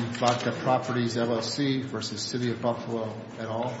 v. Flacca Properties, LLC v. City of Buffalo, et al.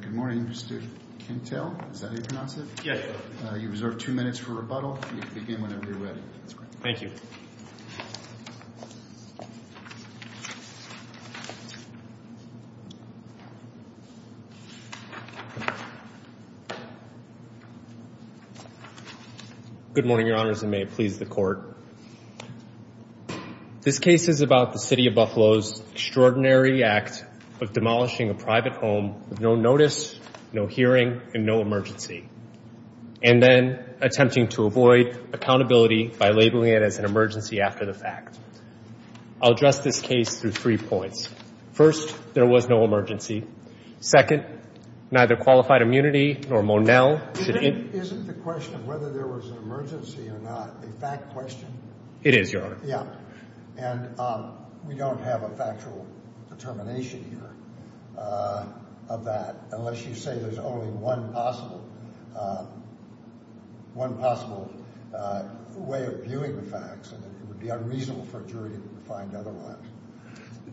Good morning, Mr. Kintel. Is that how you pronounce it? Yes, sir. You have two minutes for rebuttal. You can begin whenever you're ready. Thank you. Good morning, Your Honors, and may it please the Court. This case is about the City of Buffalo's extraordinary act of demolishing a private home with no notice, no hearing, and no emergency, and then attempting to avoid accountability by labeling it as an emergency after the fact. I'll address this case through three points. First, there was no emergency. Second, neither qualified immunity nor Monell should in- Isn't the question of whether there was an emergency or not a fact question? It is, Your Honor. Yeah. And we don't have a factual determination here of that unless you say there's only one possible way of viewing the facts, and it would be unreasonable for a jury to find otherwise.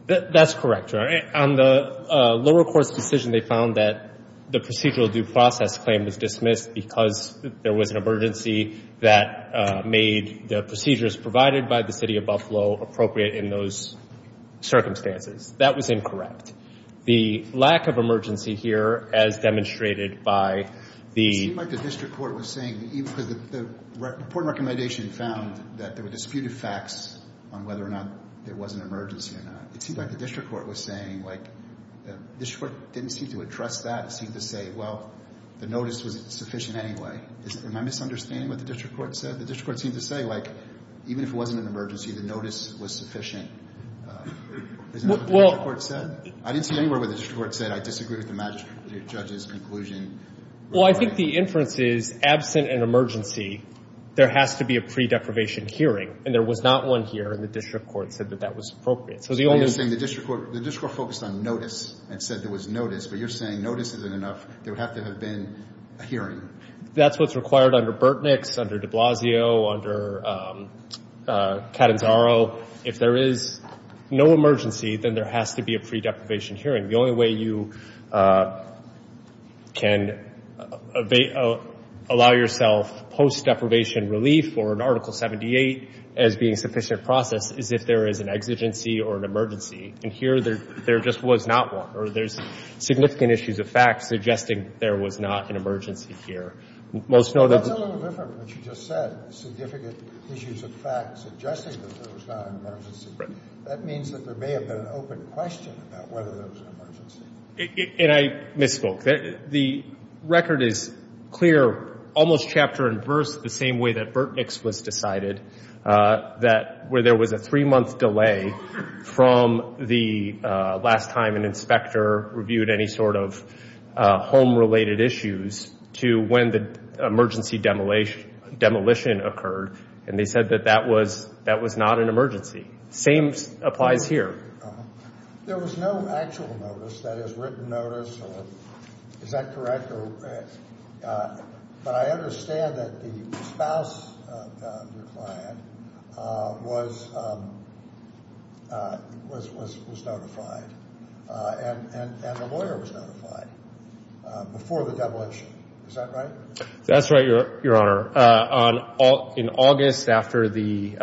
That's correct, Your Honor. On the lower court's decision, they found that the procedural due process claim was dismissed because there was an emergency that made the procedures provided by the City of Buffalo appropriate in those circumstances. That was incorrect. The lack of emergency here, as demonstrated by the- It seemed like the district court was saying, because the report and recommendation found that there were disputed facts on whether or not there was an emergency or not. It seemed like the district court was saying, like, the district court didn't seem to address that. It seemed to say, well, the notice was sufficient anyway. Am I misunderstanding what the district court said? The district court seemed to say, like, even if it wasn't an emergency, the notice was sufficient. Isn't that what the district court said? I didn't see anywhere where the district court said, I disagree with the judge's conclusion. Well, I think the inference is, absent an emergency, there has to be a pre-deprivation hearing, and there was not one here, and the district court said that that was appropriate. So the only- So you're saying the district court focused on notice and said there was notice, but you're saying notice isn't enough. There would have to have been a hearing. That's what's required under Burtnick's, under de Blasio, under Catanzaro. If there is no emergency, then there has to be a pre-deprivation hearing. The only way you can allow yourself post-deprivation relief or an Article 78 as being sufficient process is if there is an exigency or an emergency. And here there just was not one, or there's significant issues of fact suggesting there was not an emergency here. Most know that- Well, that's a little different from what you just said, significant issues of fact suggesting that there was not an emergency. Right. That means that there may have been an open question about whether there was an emergency. And I misspoke. The record is clear, almost chapter and verse, the same way that Burtnick's was decided, that where there was a three-month delay from the last time an inspector reviewed any sort of home-related issues to when the emergency demolition occurred, and they said that that was not an emergency. Same applies here. There was no actual notice, that is, written notice. Is that correct? But I understand that the spouse of your client was notified, and the lawyer was notified before the demolition. Is that right? That's right, Your Honor. In August, after the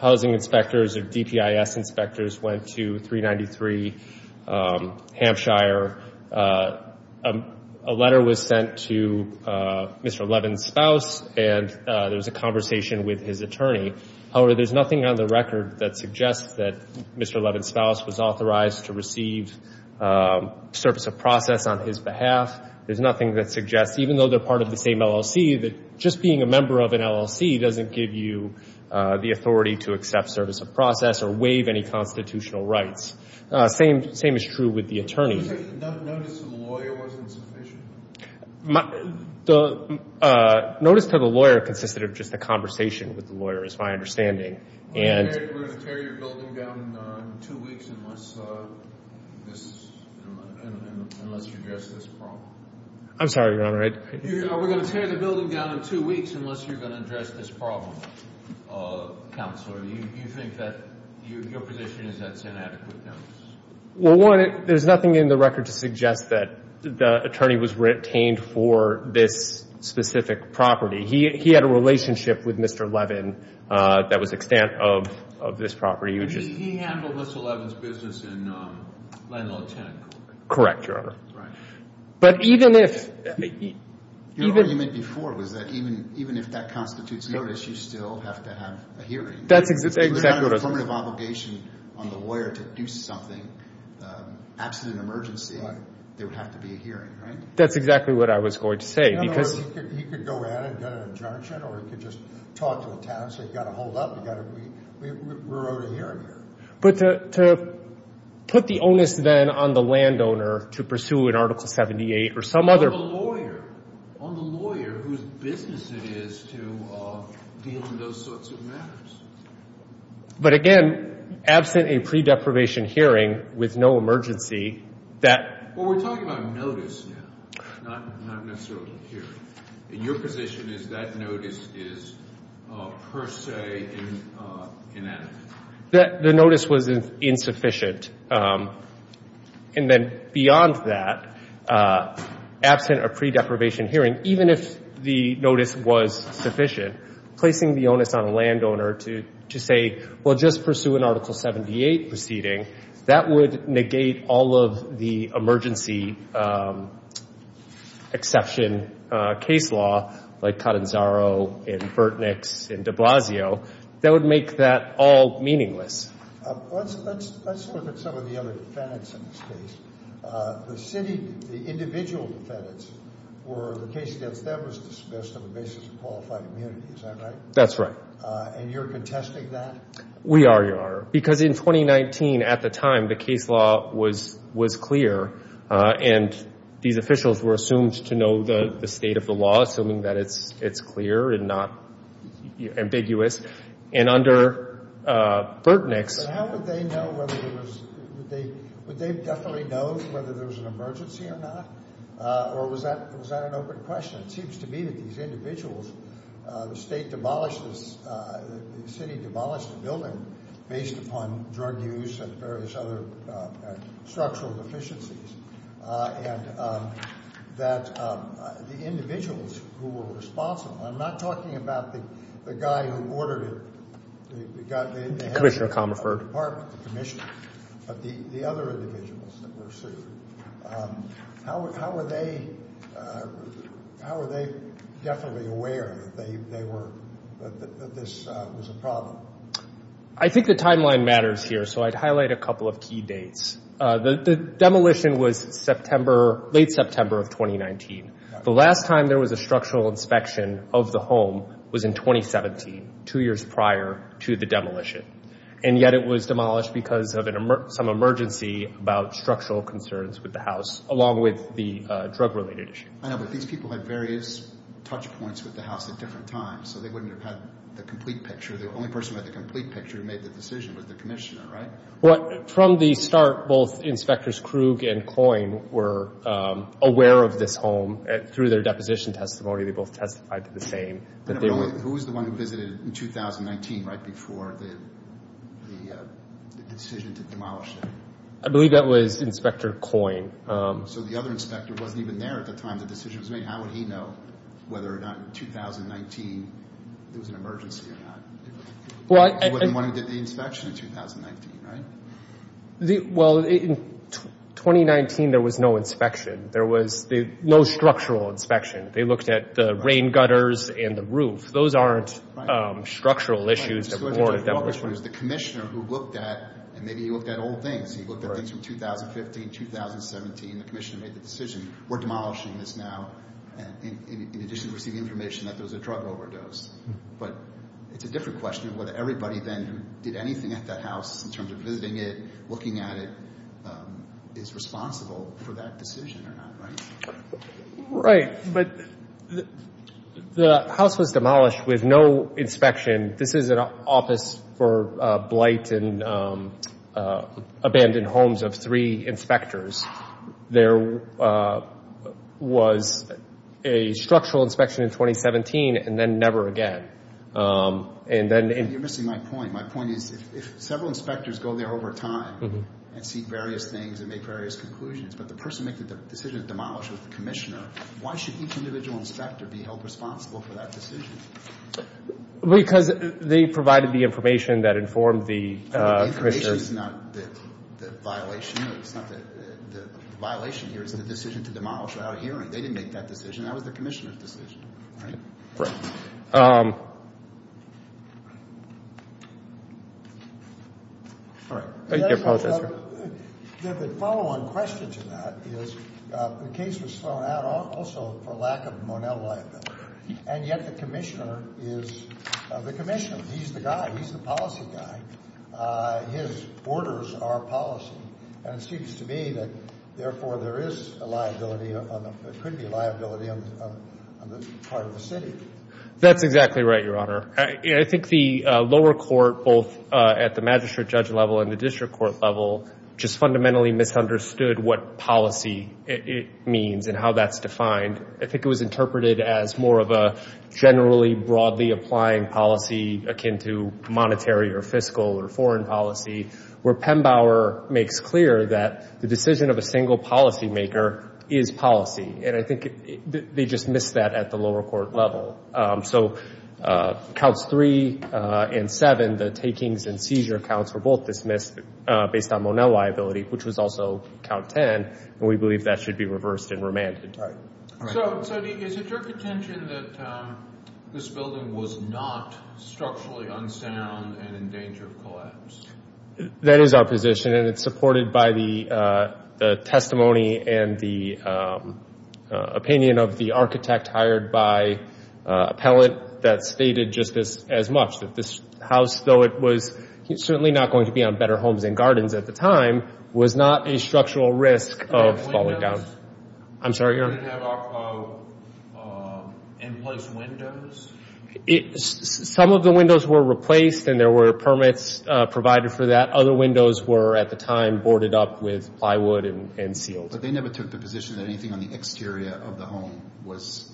housing inspectors or DPIS inspectors went to 393 Hampshire, a letter was sent to Mr. Levin's spouse, and there was a conversation with his attorney. However, there's nothing on the record that suggests that Mr. Levin's spouse was authorized to receive service of process on his behalf. There's nothing that suggests, even though they're part of the same LLC, that just being a member of an LLC doesn't give you the authority to accept service of process or waive any constitutional rights. Same is true with the attorney. You're saying the notice to the lawyer wasn't sufficient? Notice to the lawyer consisted of just a conversation with the lawyer, is my understanding. Are we going to tear your building down in two weeks unless you address this problem? I'm sorry, Your Honor. Are we going to tear the building down in two weeks unless you're going to address this problem, Counselor? Do you think that your position is that it's inadequate notice? Well, one, there's nothing in the record to suggest that the attorney was retained for this specific property. He had a relationship with Mr. Levin that was extant of this property. He handled Mr. Levin's business in Landlaw 10. Correct, Your Honor. Right. Your argument before was that even if that constitutes notice, you still have to have a hearing. That's exactly what I was going to say. It's a formative obligation on the lawyer to do something. Absolute emergency, there would have to be a hearing, right? That's exactly what I was going to say. He could go in and get an injunction or he could just talk to the town and say, you've got to hold up. We wrote a hearing here. But to put the onus then on the landowner to pursue an Article 78 or some other... On the lawyer whose business it is to deal in those sorts of matters. But, again, absent a pre-deprivation hearing with no emergency, that... Well, we're talking about notice now, not necessarily a hearing. Your position is that notice is per se inadequate. The notice was insufficient. And then beyond that, absent a pre-deprivation hearing, even if the notice was sufficient, placing the onus on a landowner to say, well, just pursue an Article 78 proceeding, that would negate all of the emergency exception case law like Catanzaro and Burtnick's and de Blasio. That would make that all meaningless. Let's look at some of the other defendants in this case. The city, the individual defendants, were the case that was discussed on the basis of qualified immunity. Is that right? That's right. And you're contesting that? We already are. Because in 2019, at the time, the case law was clear. And these officials were assumed to know the state of the law, assuming that it's clear and not ambiguous. And under Burtnick's... But how would they know whether there was... Would they definitely know whether there was an emergency or not? Or was that an open question? It seems to me that these individuals, the state demolished the city, demolished the building based upon drug use and various other structural deficiencies, and that the individuals who were responsible, I'm not talking about the guy who ordered it. Commissioner Comerford. But the other individuals that were sued, how were they definitely aware that this was a problem? I think the timeline matters here, so I'd highlight a couple of key dates. The demolition was late September of 2019. The last time there was a structural inspection of the home was in 2017, two years prior to the demolition. And yet it was demolished because of some emergency about structural concerns with the house, along with the drug-related issue. I know, but these people had various touch points with the house at different times, so they wouldn't have had the complete picture. The only person who had the complete picture who made the decision was the commissioner, right? Well, from the start, both Inspectors Krug and Coyne were aware of this home. Through their deposition testimony, they both testified to the same. Who was the one who visited in 2019, right before the decision to demolish it? I believe that was Inspector Coyne. So the other inspector wasn't even there at the time the decision was made. How would he know whether or not in 2019 there was an emergency or not? He was the one who did the inspection in 2019, right? Well, in 2019, there was no inspection. There was no structural inspection. They looked at the rain gutters and the roof. Those aren't structural issues. The commissioner who looked at, and maybe he looked at old things, he looked at things from 2015, 2017, the commissioner made the decision, we're demolishing this now, in addition to receiving information that there was a drug overdose. But it's a different question of whether everybody then who did anything at that house, in terms of visiting it, looking at it, is responsible for that decision or not, right? Right, but the house was demolished with no inspection. This is an office for blight and abandoned homes of three inspectors. There was a structural inspection in 2017 and then never again. You're missing my point. My point is if several inspectors go there over time and see various things and make various conclusions, but the person making the decision to demolish was the commissioner, why should each individual inspector be held responsible for that decision? Because they provided the information that informed the commissioner. The information is not the violation. It's not the violation here. It's the decision to demolish without a hearing. They didn't make that decision. That was the commissioner's decision, right? Right. All right. I apologize. The follow-on question to that is the case was thrown out also for lack of Monell liability, and yet the commissioner is the commissioner. He's the guy. He's the policy guy. His orders are policy, and it seems to me that, therefore, there could be liability on the part of the city. That's exactly right, Your Honor. I think the lower court, both at the magistrate judge level and the district court level, just fundamentally misunderstood what policy means and how that's defined. I think it was interpreted as more of a generally broadly applying policy akin to monetary or fiscal or foreign policy where Pembauer makes clear that the decision of a single policymaker is policy. And I think they just missed that at the lower court level. So Counts 3 and 7, the takings and seizure counts, were both dismissed based on Monell liability, which was also Count 10, and we believe that should be reversed and remanded. All right. So is it your contention that this building was not structurally unsound and in danger of collapse? That is our position, and it's supported by the testimony and the opinion of the architect hired by appellate that stated just as much, that this house, though it was certainly not going to be on better homes and gardens at the time, was not a structural risk of falling down. I'm sorry. Did it have in-place windows? Some of the windows were replaced, and there were permits provided for that. Other windows were, at the time, boarded up with plywood and sealed. But they never took the position that anything on the exterior of the home was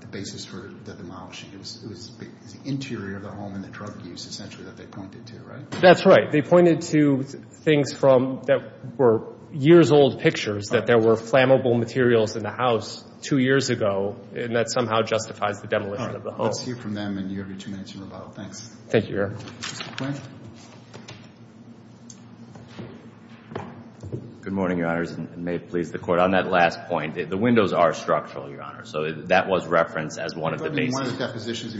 the basis for the demolition. It was the interior of the home and the drug use, essentially, that they pointed to, right? That's right. They pointed to things that were years-old pictures, that there were flammable materials in the house two years ago, and that somehow justifies the demolition of the home. Let's hear from them, and you have your two minutes to move on. Thanks. Thank you, Your Honor. Good morning, Your Honors, and may it please the Court. On that last point, the windows are structural, Your Honor, so that was referenced as one of the basics. They said the decision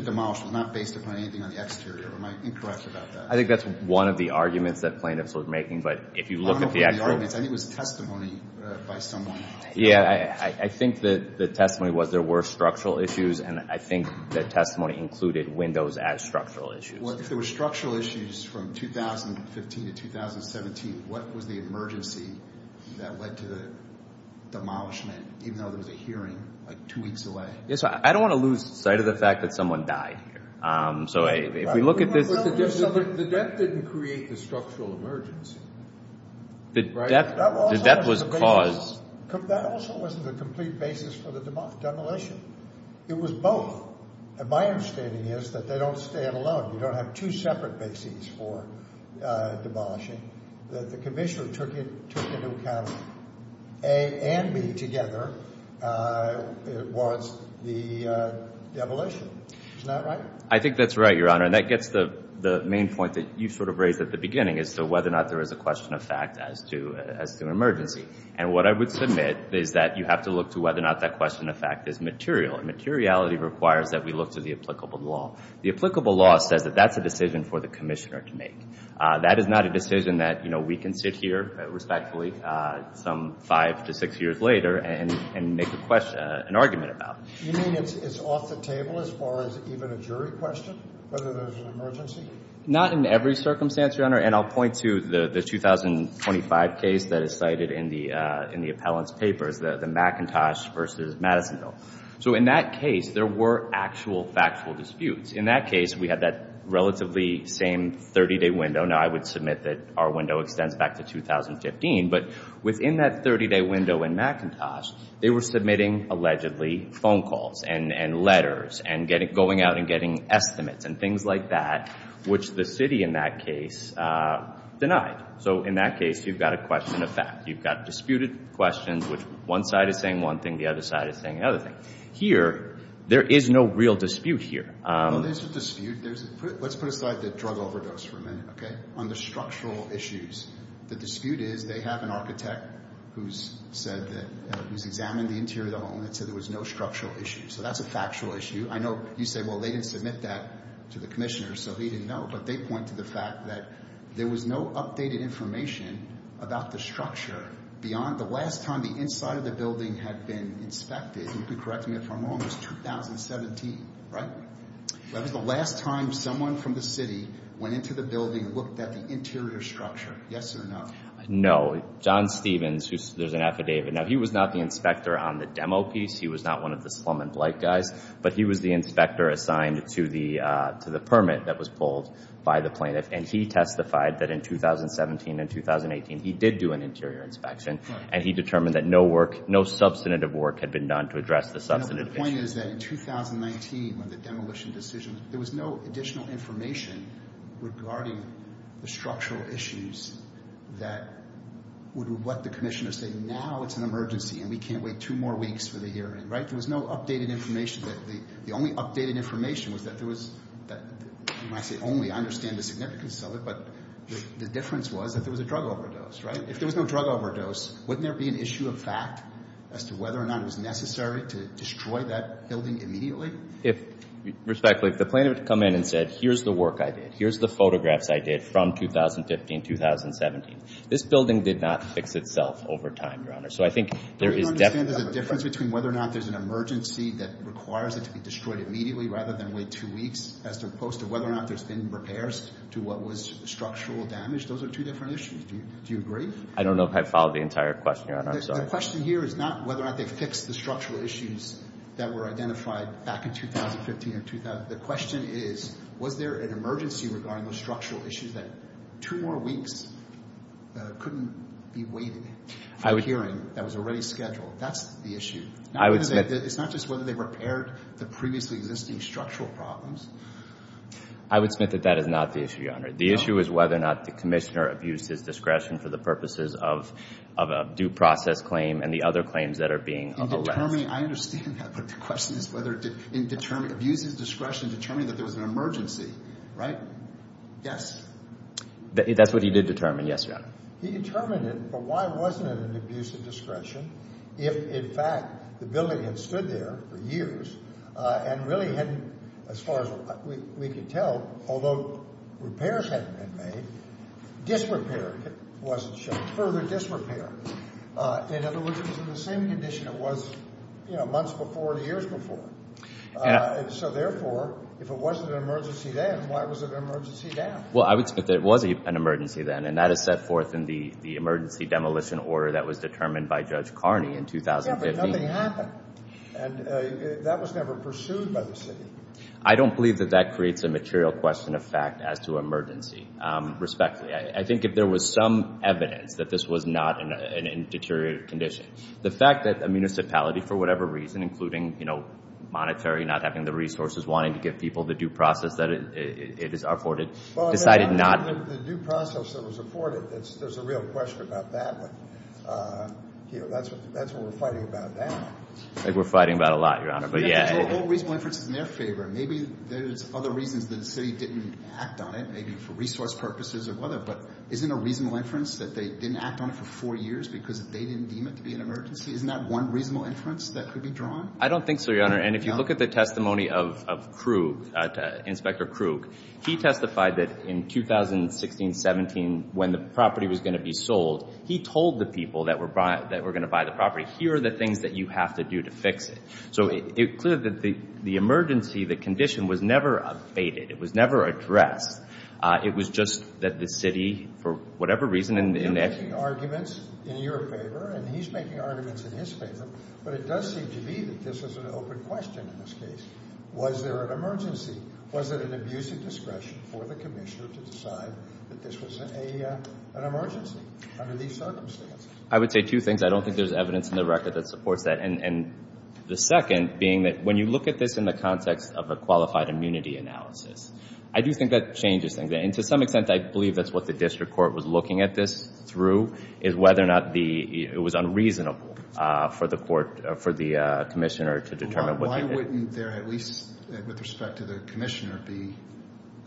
to demolish was not based upon anything on the exterior. Am I incorrect about that? I think that's one of the arguments that plaintiffs were making, but if you look at the actual... I don't know if it was the arguments. I think it was testimony by someone. Yeah, I think the testimony was there were structural issues, and I think the testimony included windows as structural issues. Well, if there were structural issues from 2015 to 2017, what was the emergency that led to the demolishment, even though there was a hearing like two weeks away? Yes, I don't want to lose sight of the fact that someone died here. So if we look at this... The death didn't create the structural emergency, right? The death was caused... That also wasn't the complete basis for the demolition. It was both, and my understanding is that they don't stand alone. You don't have two separate bases for demolishing. The commissioner took into account A and B together was the demolition. Isn't that right? I think that's right, Your Honor, and that gets to the main point that you sort of raised at the beginning as to whether or not there is a question of fact as to an emergency. And what I would submit is that you have to look to whether or not that question of fact is material, and materiality requires that we look to the applicable law. The applicable law says that that's a decision for the commissioner to make. That is not a decision that we can sit here respectfully some five to six years later and make an argument about. You mean it's off the table as far as even a jury question, whether there's an emergency? Not in every circumstance, Your Honor, and I'll point to the 2025 case that is cited in the appellant's papers, the McIntosh v. Madison bill. So in that case, there were actual factual disputes. In that case, we had that relatively same 30-day window. Now, I would submit that our window extends back to 2015, but within that 30-day window in McIntosh, they were submitting allegedly phone calls and letters and going out and getting estimates and things like that, which the city in that case denied. So in that case, you've got a question of fact. You've got disputed questions, which one side is saying one thing, the other side is saying another thing. Here, there is no real dispute here. There is a dispute. Let's put aside the drug overdose for a minute. On the structural issues, the dispute is they have an architect who's examined the interior of the home and said there was no structural issue. So that's a factual issue. I know you say, well, they didn't submit that to the commissioner, so he didn't know, but they point to the fact that there was no updated information about the structure beyond the last time the inside of the building had been inspected. You can correct me if I'm wrong. It was 2017, right? That was the last time someone from the city went into the building and looked at the interior structure. Yes or no? No. John Stevens, there's an affidavit. Now, he was not the inspector on the demo piece. He was not one of the slum and blight guys, but he was the inspector assigned to the permit that was pulled by the plaintiff, and he testified that in 2017 and 2018, he did do an interior inspection, and he determined that no substantive work had been done to address the substantive issue. The point is that in 2019, when the demolition decision, there was no additional information regarding the structural issues that would have let the commissioner say, now it's an emergency and we can't wait two more weeks for the hearing, right? There was no updated information. The only updated information was that there was, and I say only, I understand the significance of it, but the difference was that there was a drug overdose, right? If there was no drug overdose, wouldn't there be an issue of fact as to whether or not it was necessary to destroy that building immediately? If, respectfully, if the plaintiff had come in and said, here's the work I did, here's the photographs I did from 2015, 2017, this building did not fix itself over time, Your Honor. So I think there is definitely a difference between whether or not there's an emergency that requires it to be destroyed immediately rather than wait two weeks as opposed to whether or not there's been repairs to what was structural damage. Those are two different issues. Do you agree? I don't know if I followed the entire question, Your Honor. I'm sorry. The question here is not whether or not they fixed the structural issues that were identified back in 2015 or 2000. The question is, was there an emergency regarding those structural issues that two more weeks couldn't be waited for the hearing that was already scheduled? That's the issue. It's not just whether they repaired the previously existing structural problems. I would submit that that is not the issue, Your Honor. The issue is whether or not the commissioner abused his discretion for the purposes of a due process claim and the other claims that are being alleged. I understand that. But the question is whether he abused his discretion to determine that there was an emergency, right? Yes. That's what he did determine, yes, Your Honor. He determined it, but why wasn't it an abuse of discretion if, in fact, the building had stood there for years and really hadn't, as far as we could tell, although repairs hadn't been made, disrepair wasn't shown, further disrepair. In other words, it was in the same condition it was months before or years before. So, therefore, if it wasn't an emergency then, why was it an emergency now? Well, it was an emergency then, and that is set forth in the emergency demolition order that was determined by Judge Carney in 2015. Yeah, but nothing happened, and that was never pursued by the city. I don't believe that that creates a material question of fact as to emergency. Respectfully, I think if there was some evidence that this was not in a deteriorated condition. The fact that a municipality, for whatever reason, including, you know, monetary, not having the resources, wanting to give people the due process that it is afforded, decided not. The due process that was afforded, there's a real question about that one. You know, that's what we're fighting about now. I think we're fighting about a lot, Your Honor, but yeah. The whole reasonable inference is in their favor. Maybe there's other reasons that the city didn't act on it, maybe for resource purposes or whatever, but isn't a reasonable inference that they didn't act on it for four years because they didn't deem it to be an emergency? Isn't that one reasonable inference that could be drawn? I don't think so, Your Honor, and if you look at the testimony of Krug, Inspector Krug, he testified that in 2016-17, when the property was going to be sold, he told the people that were going to buy the property, here are the things that you have to do to fix it. So it's clear that the emergency, the condition, was never abated. It was never addressed. It was just that the city, for whatever reason, in action. You're making arguments in your favor, and he's making arguments in his favor, but it does seem to me that this is an open question in this case. Was there an emergency? Was it an abuse of discretion for the commissioner to decide that this was an emergency under these circumstances? I would say two things. I don't think there's evidence in the record that supports that, and the second being that when you look at this in the context of a qualified immunity analysis, I do think that changes things, and to some extent, I believe that's what the district court was looking at this through, is whether or not it was unreasonable for the commissioner to determine. Why wouldn't there at least, with respect to the commissioner, be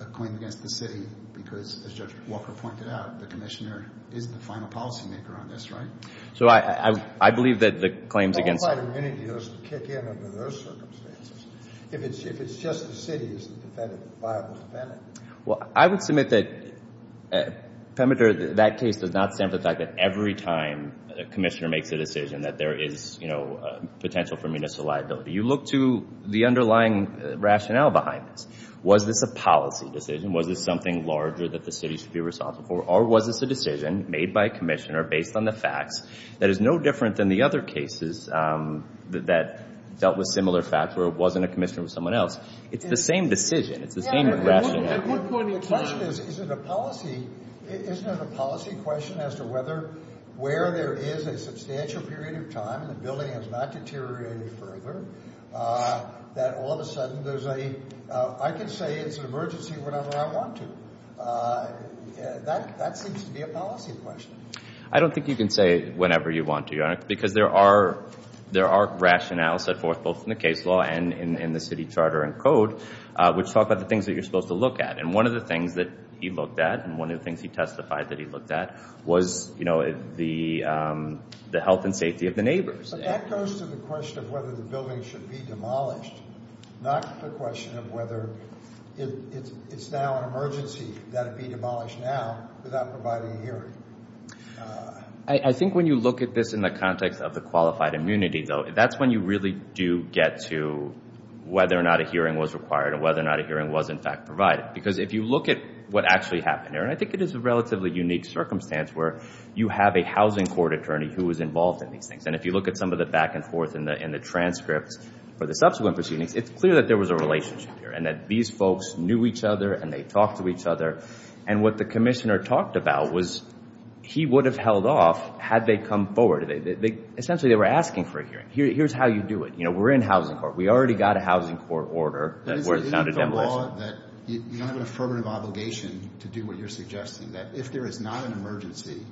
a claim against the city because, as Judge Walker pointed out, the commissioner is the final policymaker on this, right? So I believe that the claims against... Qualified immunity doesn't kick in under those circumstances. If it's just the city, is the defendant a viable defendant? Well, I would submit that that case does not stand for the fact that every time a commissioner makes a decision that there is, you know, potential for municipal liability. You look to the underlying rationale behind this. Was this a policy decision? Was this something larger that the city should be responsible for? Or was this a decision made by a commissioner based on the facts that is no different than the other cases that dealt with similar facts where it wasn't a commissioner, it was someone else? It's the same decision. It's the same rationale. The question is, is it a policy... Isn't it a policy question as to whether where there is a substantial period of time the building has not deteriorated further that all of a sudden there's a... I can say it's an emergency whenever I want to. That seems to be a policy question. I don't think you can say whenever you want to, Your Honor, because there are rationales set forth both in the case law and in the city charter and code which talk about the things that you're supposed to look at. And one of the things that he looked at and one of the things he testified that he looked at was the health and safety of the neighbors. But that goes to the question of whether the building should be demolished, not the question of whether it's now an emergency that it be demolished now without providing a hearing. I think when you look at this in the context of the qualified immunity, though, that's when you really do get to whether or not a hearing was required and whether or not a hearing was, in fact, provided. Because if you look at what actually happened there, and I think it is a relatively unique circumstance where you have a housing court attorney who was involved in these things. And if you look at some of the back and forth in the transcripts for the subsequent proceedings, it's clear that there was a relationship here and that these folks knew each other and they talked to each other. And what the commissioner talked about was he would have held off had they come forward. Essentially, they were asking for a hearing. Here's how you do it. We're in housing court. We already got a housing court order where it's not a demolition. You don't have an affirmative obligation to do what you're suggesting. If there is not an emergency,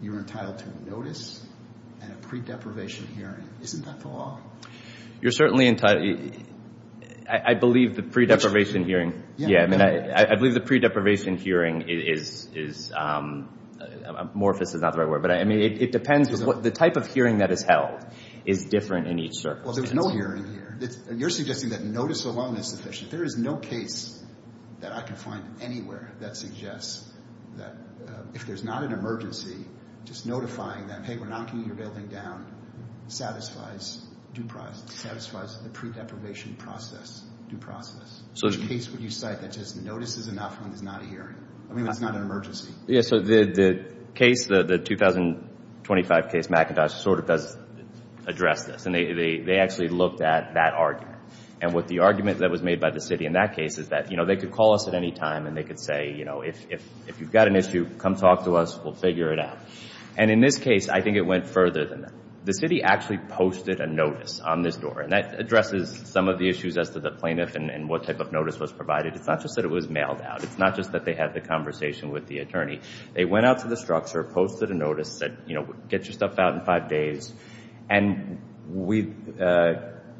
you're entitled to notice and a pre-deprivation hearing. Isn't that the law? You're certainly entitled. I believe the pre-deprivation hearing is amorphous is not the right word. It depends. The type of hearing that is held is different in each circumstance. Well, there's no hearing here. You're suggesting that notice alone is sufficient. There is no case that I can find anywhere that suggests that if there's not an emergency, just notifying them, hey, we're knocking your building down, satisfies the pre-deprivation process due process. Which case would you cite that just notices enough and is not a hearing? I mean, that's not an emergency. The case, the 2025 case, McIntosh, sort of does address this. They actually looked at that argument. And what the argument that was made by the city in that case is that, you know, they could call us at any time and they could say, you know, if you've got an issue, come talk to us, we'll figure it out. And in this case, I think it went further than that. The city actually posted a notice on this door, and that addresses some of the issues as to the plaintiff and what type of notice was provided. It's not just that it was mailed out. It's not just that they had the conversation with the attorney. They went out to the structure, posted a notice, said, you know, get your stuff out in five days. And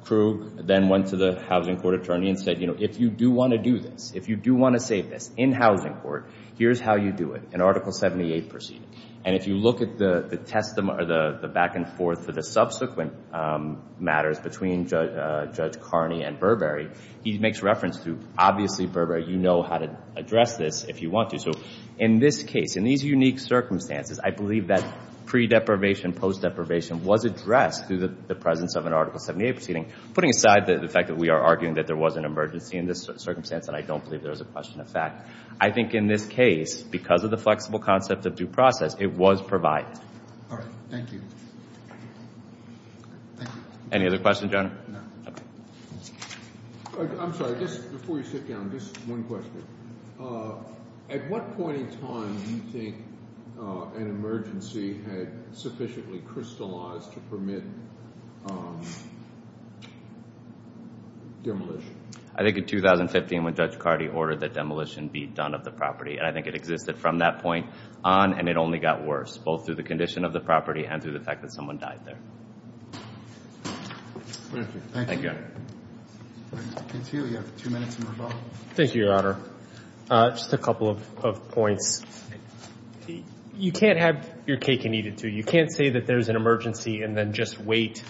Krug then went to the housing court attorney and said, you know, if you do want to do this, if you do want to say this in housing court, here's how you do it, in Article 78 proceeding. And if you look at the back and forth for the subsequent matters between Judge Carney and Burberry, he makes reference to, obviously, Burberry, you know how to address this if you want to. In this case, in these unique circumstances, I believe that pre-deprivation, post-deprivation was addressed through the presence of an Article 78 proceeding, putting aside the fact that we are arguing that there was an emergency in this circumstance, and I don't believe there was a question of fact. I think in this case, because of the flexible concept of due process, it was provided. All right. Thank you. Thank you. Any other questions, Your Honor? No. Okay. I'm sorry, just before you sit down, just one question. At what point in time do you think an emergency had sufficiently crystallized to permit demolition? I think in 2015 when Judge Cardi ordered that demolition be done of the property, and I think it existed from that point on, and it only got worse, both through the condition of the property and through the fact that someone died there. Thank you. Thank you, Your Honor. Mr. Cantillo, you have two minutes in rebuttal. Thank you, Your Honor. Just a couple of points. You can't have your cake and eat it, too. You can't say that there's an emergency and then just wait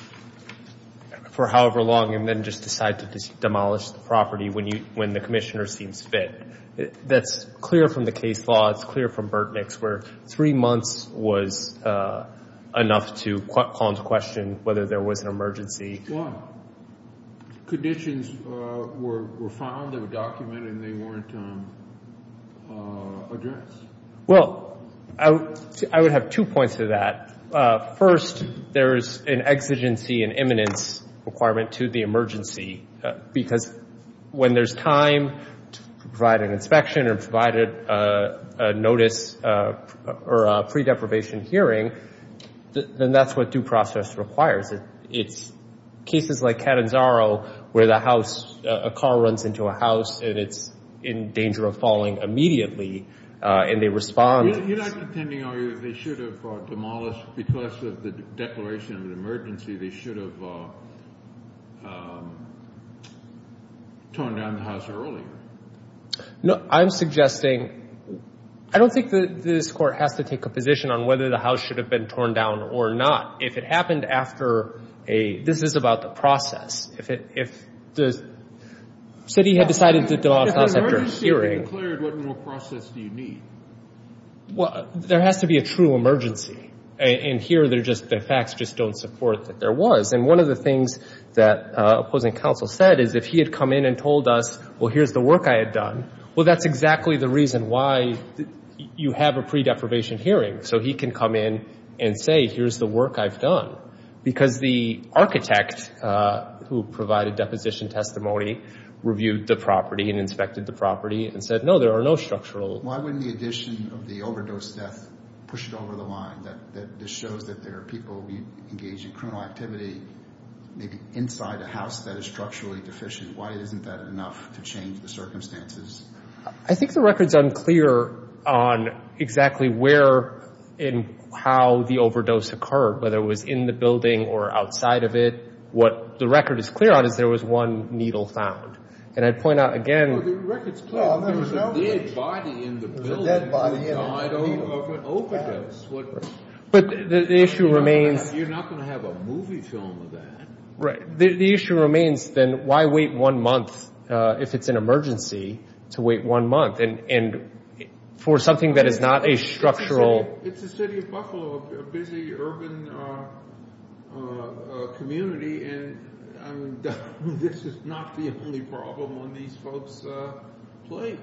for however long and then just decide to demolish the property when the commissioner seems fit. That's clear from the case law. It's clear from Burtnick's, where three months was enough to call into question whether there was an emergency. Well, conditions were found, they were documented, and they weren't addressed. Well, I would have two points to that. First, there is an exigency and eminence requirement to the emergency because when there's time to provide an inspection or provide a notice or a pre-deprivation hearing, then that's what due process requires. It's cases like Catanzaro where a car runs into a house and it's in danger of falling immediately and they respond. You're not contending, are you, that they should have demolished because of the declaration of an emergency, they should have torn down the house earlier? No, I'm suggesting I don't think that this court has to take a position on whether the house should have been torn down or not. If it happened after a – this is about the process. If the city had decided to demolish the house after a hearing. If there's an emergency being declared, what more process do you need? Well, there has to be a true emergency, and here the facts just don't support that there was. And one of the things that opposing counsel said is if he had come in and told us, well, here's the work I had done, well, that's exactly the reason why you have a pre-deprivation hearing so he can come in and say, here's the work I've done. Because the architect who provided deposition testimony reviewed the property and inspected the property and said, no, there are no structural – Why wouldn't the addition of the overdose death push it over the line, that this shows that there are people engaged in criminal activity maybe inside a house that is structurally deficient? Why isn't that enough to change the circumstances? I think the record's unclear on exactly where and how the overdose occurred, whether it was in the building or outside of it. What the record is clear on is there was one needle found. And I'd point out again – Well, the record's clear. There was a dead body in the building that died of an overdose. But the issue remains – You're not going to have a movie film of that. Right. The issue remains, then, why wait one month if it's an emergency to wait one month? And for something that is not a structural – It's the city of Buffalo, a busy urban community, and this is not the only problem on these folks' plate.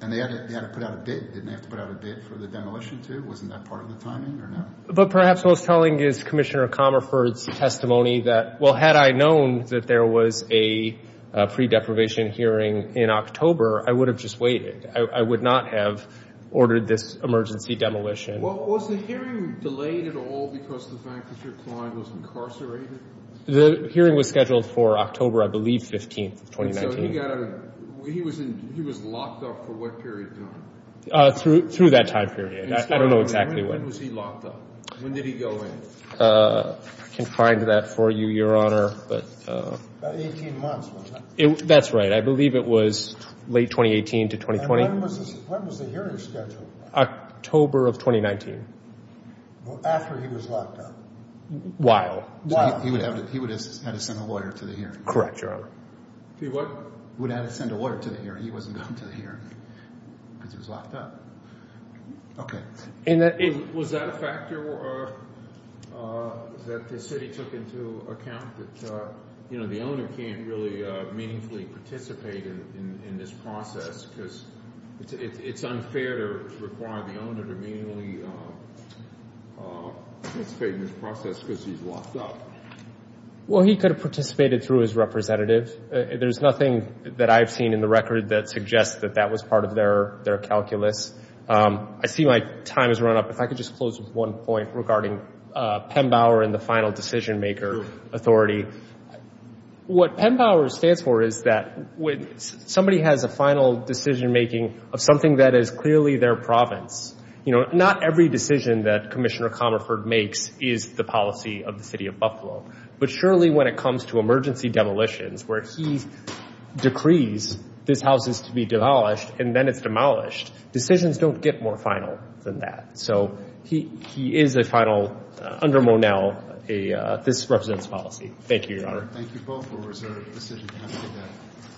And they had to put out a bid. Didn't they have to put out a bid for the demolition too? Wasn't that part of the timing or no? But perhaps what's telling is Commissioner Comerford's testimony that, well, had I known that there was a pre-deprivation hearing in October, I would have just waited. I would not have ordered this emergency demolition. Was the hearing delayed at all because the fact that your client was incarcerated? The hearing was scheduled for October, I believe, 15th of 2019. And so he was locked up for what period of time? Through that time period. I don't know exactly when. When was he locked up? When did he go in? I can find that for you, Your Honor. About 18 months, wasn't it? That's right. I believe it was late 2018 to 2020. And when was the hearing scheduled? October of 2019. Well, after he was locked up. While. While. He would have had to send a lawyer to the hearing. Correct, Your Honor. He what? Would have had to send a lawyer to the hearing. He wasn't going to the hearing because he was locked up. Okay. Was that a factor that the city took into account? That, you know, the owner can't really meaningfully participate in this process because it's unfair to require the owner to meaningfully participate in this process because he's locked up. Well, he could have participated through his representative. There's nothing that I've seen in the record that suggests that that was part of their calculus. I see my time has run up. If I could just close with one point regarding PEMBAUER and the final decision-maker authority. What PEMBAUER stands for is that somebody has a final decision-making of something that is clearly their province. You know, not every decision that Commissioner Comerford makes is the policy of the city of Buffalo. But surely when it comes to emergency demolitions where he decrees these houses to be demolished and then it's demolished, decisions don't get more final than that. So he is a final, under Monell, this represents policy. Thank you, Your Honor. Thank you both for a reserve decision.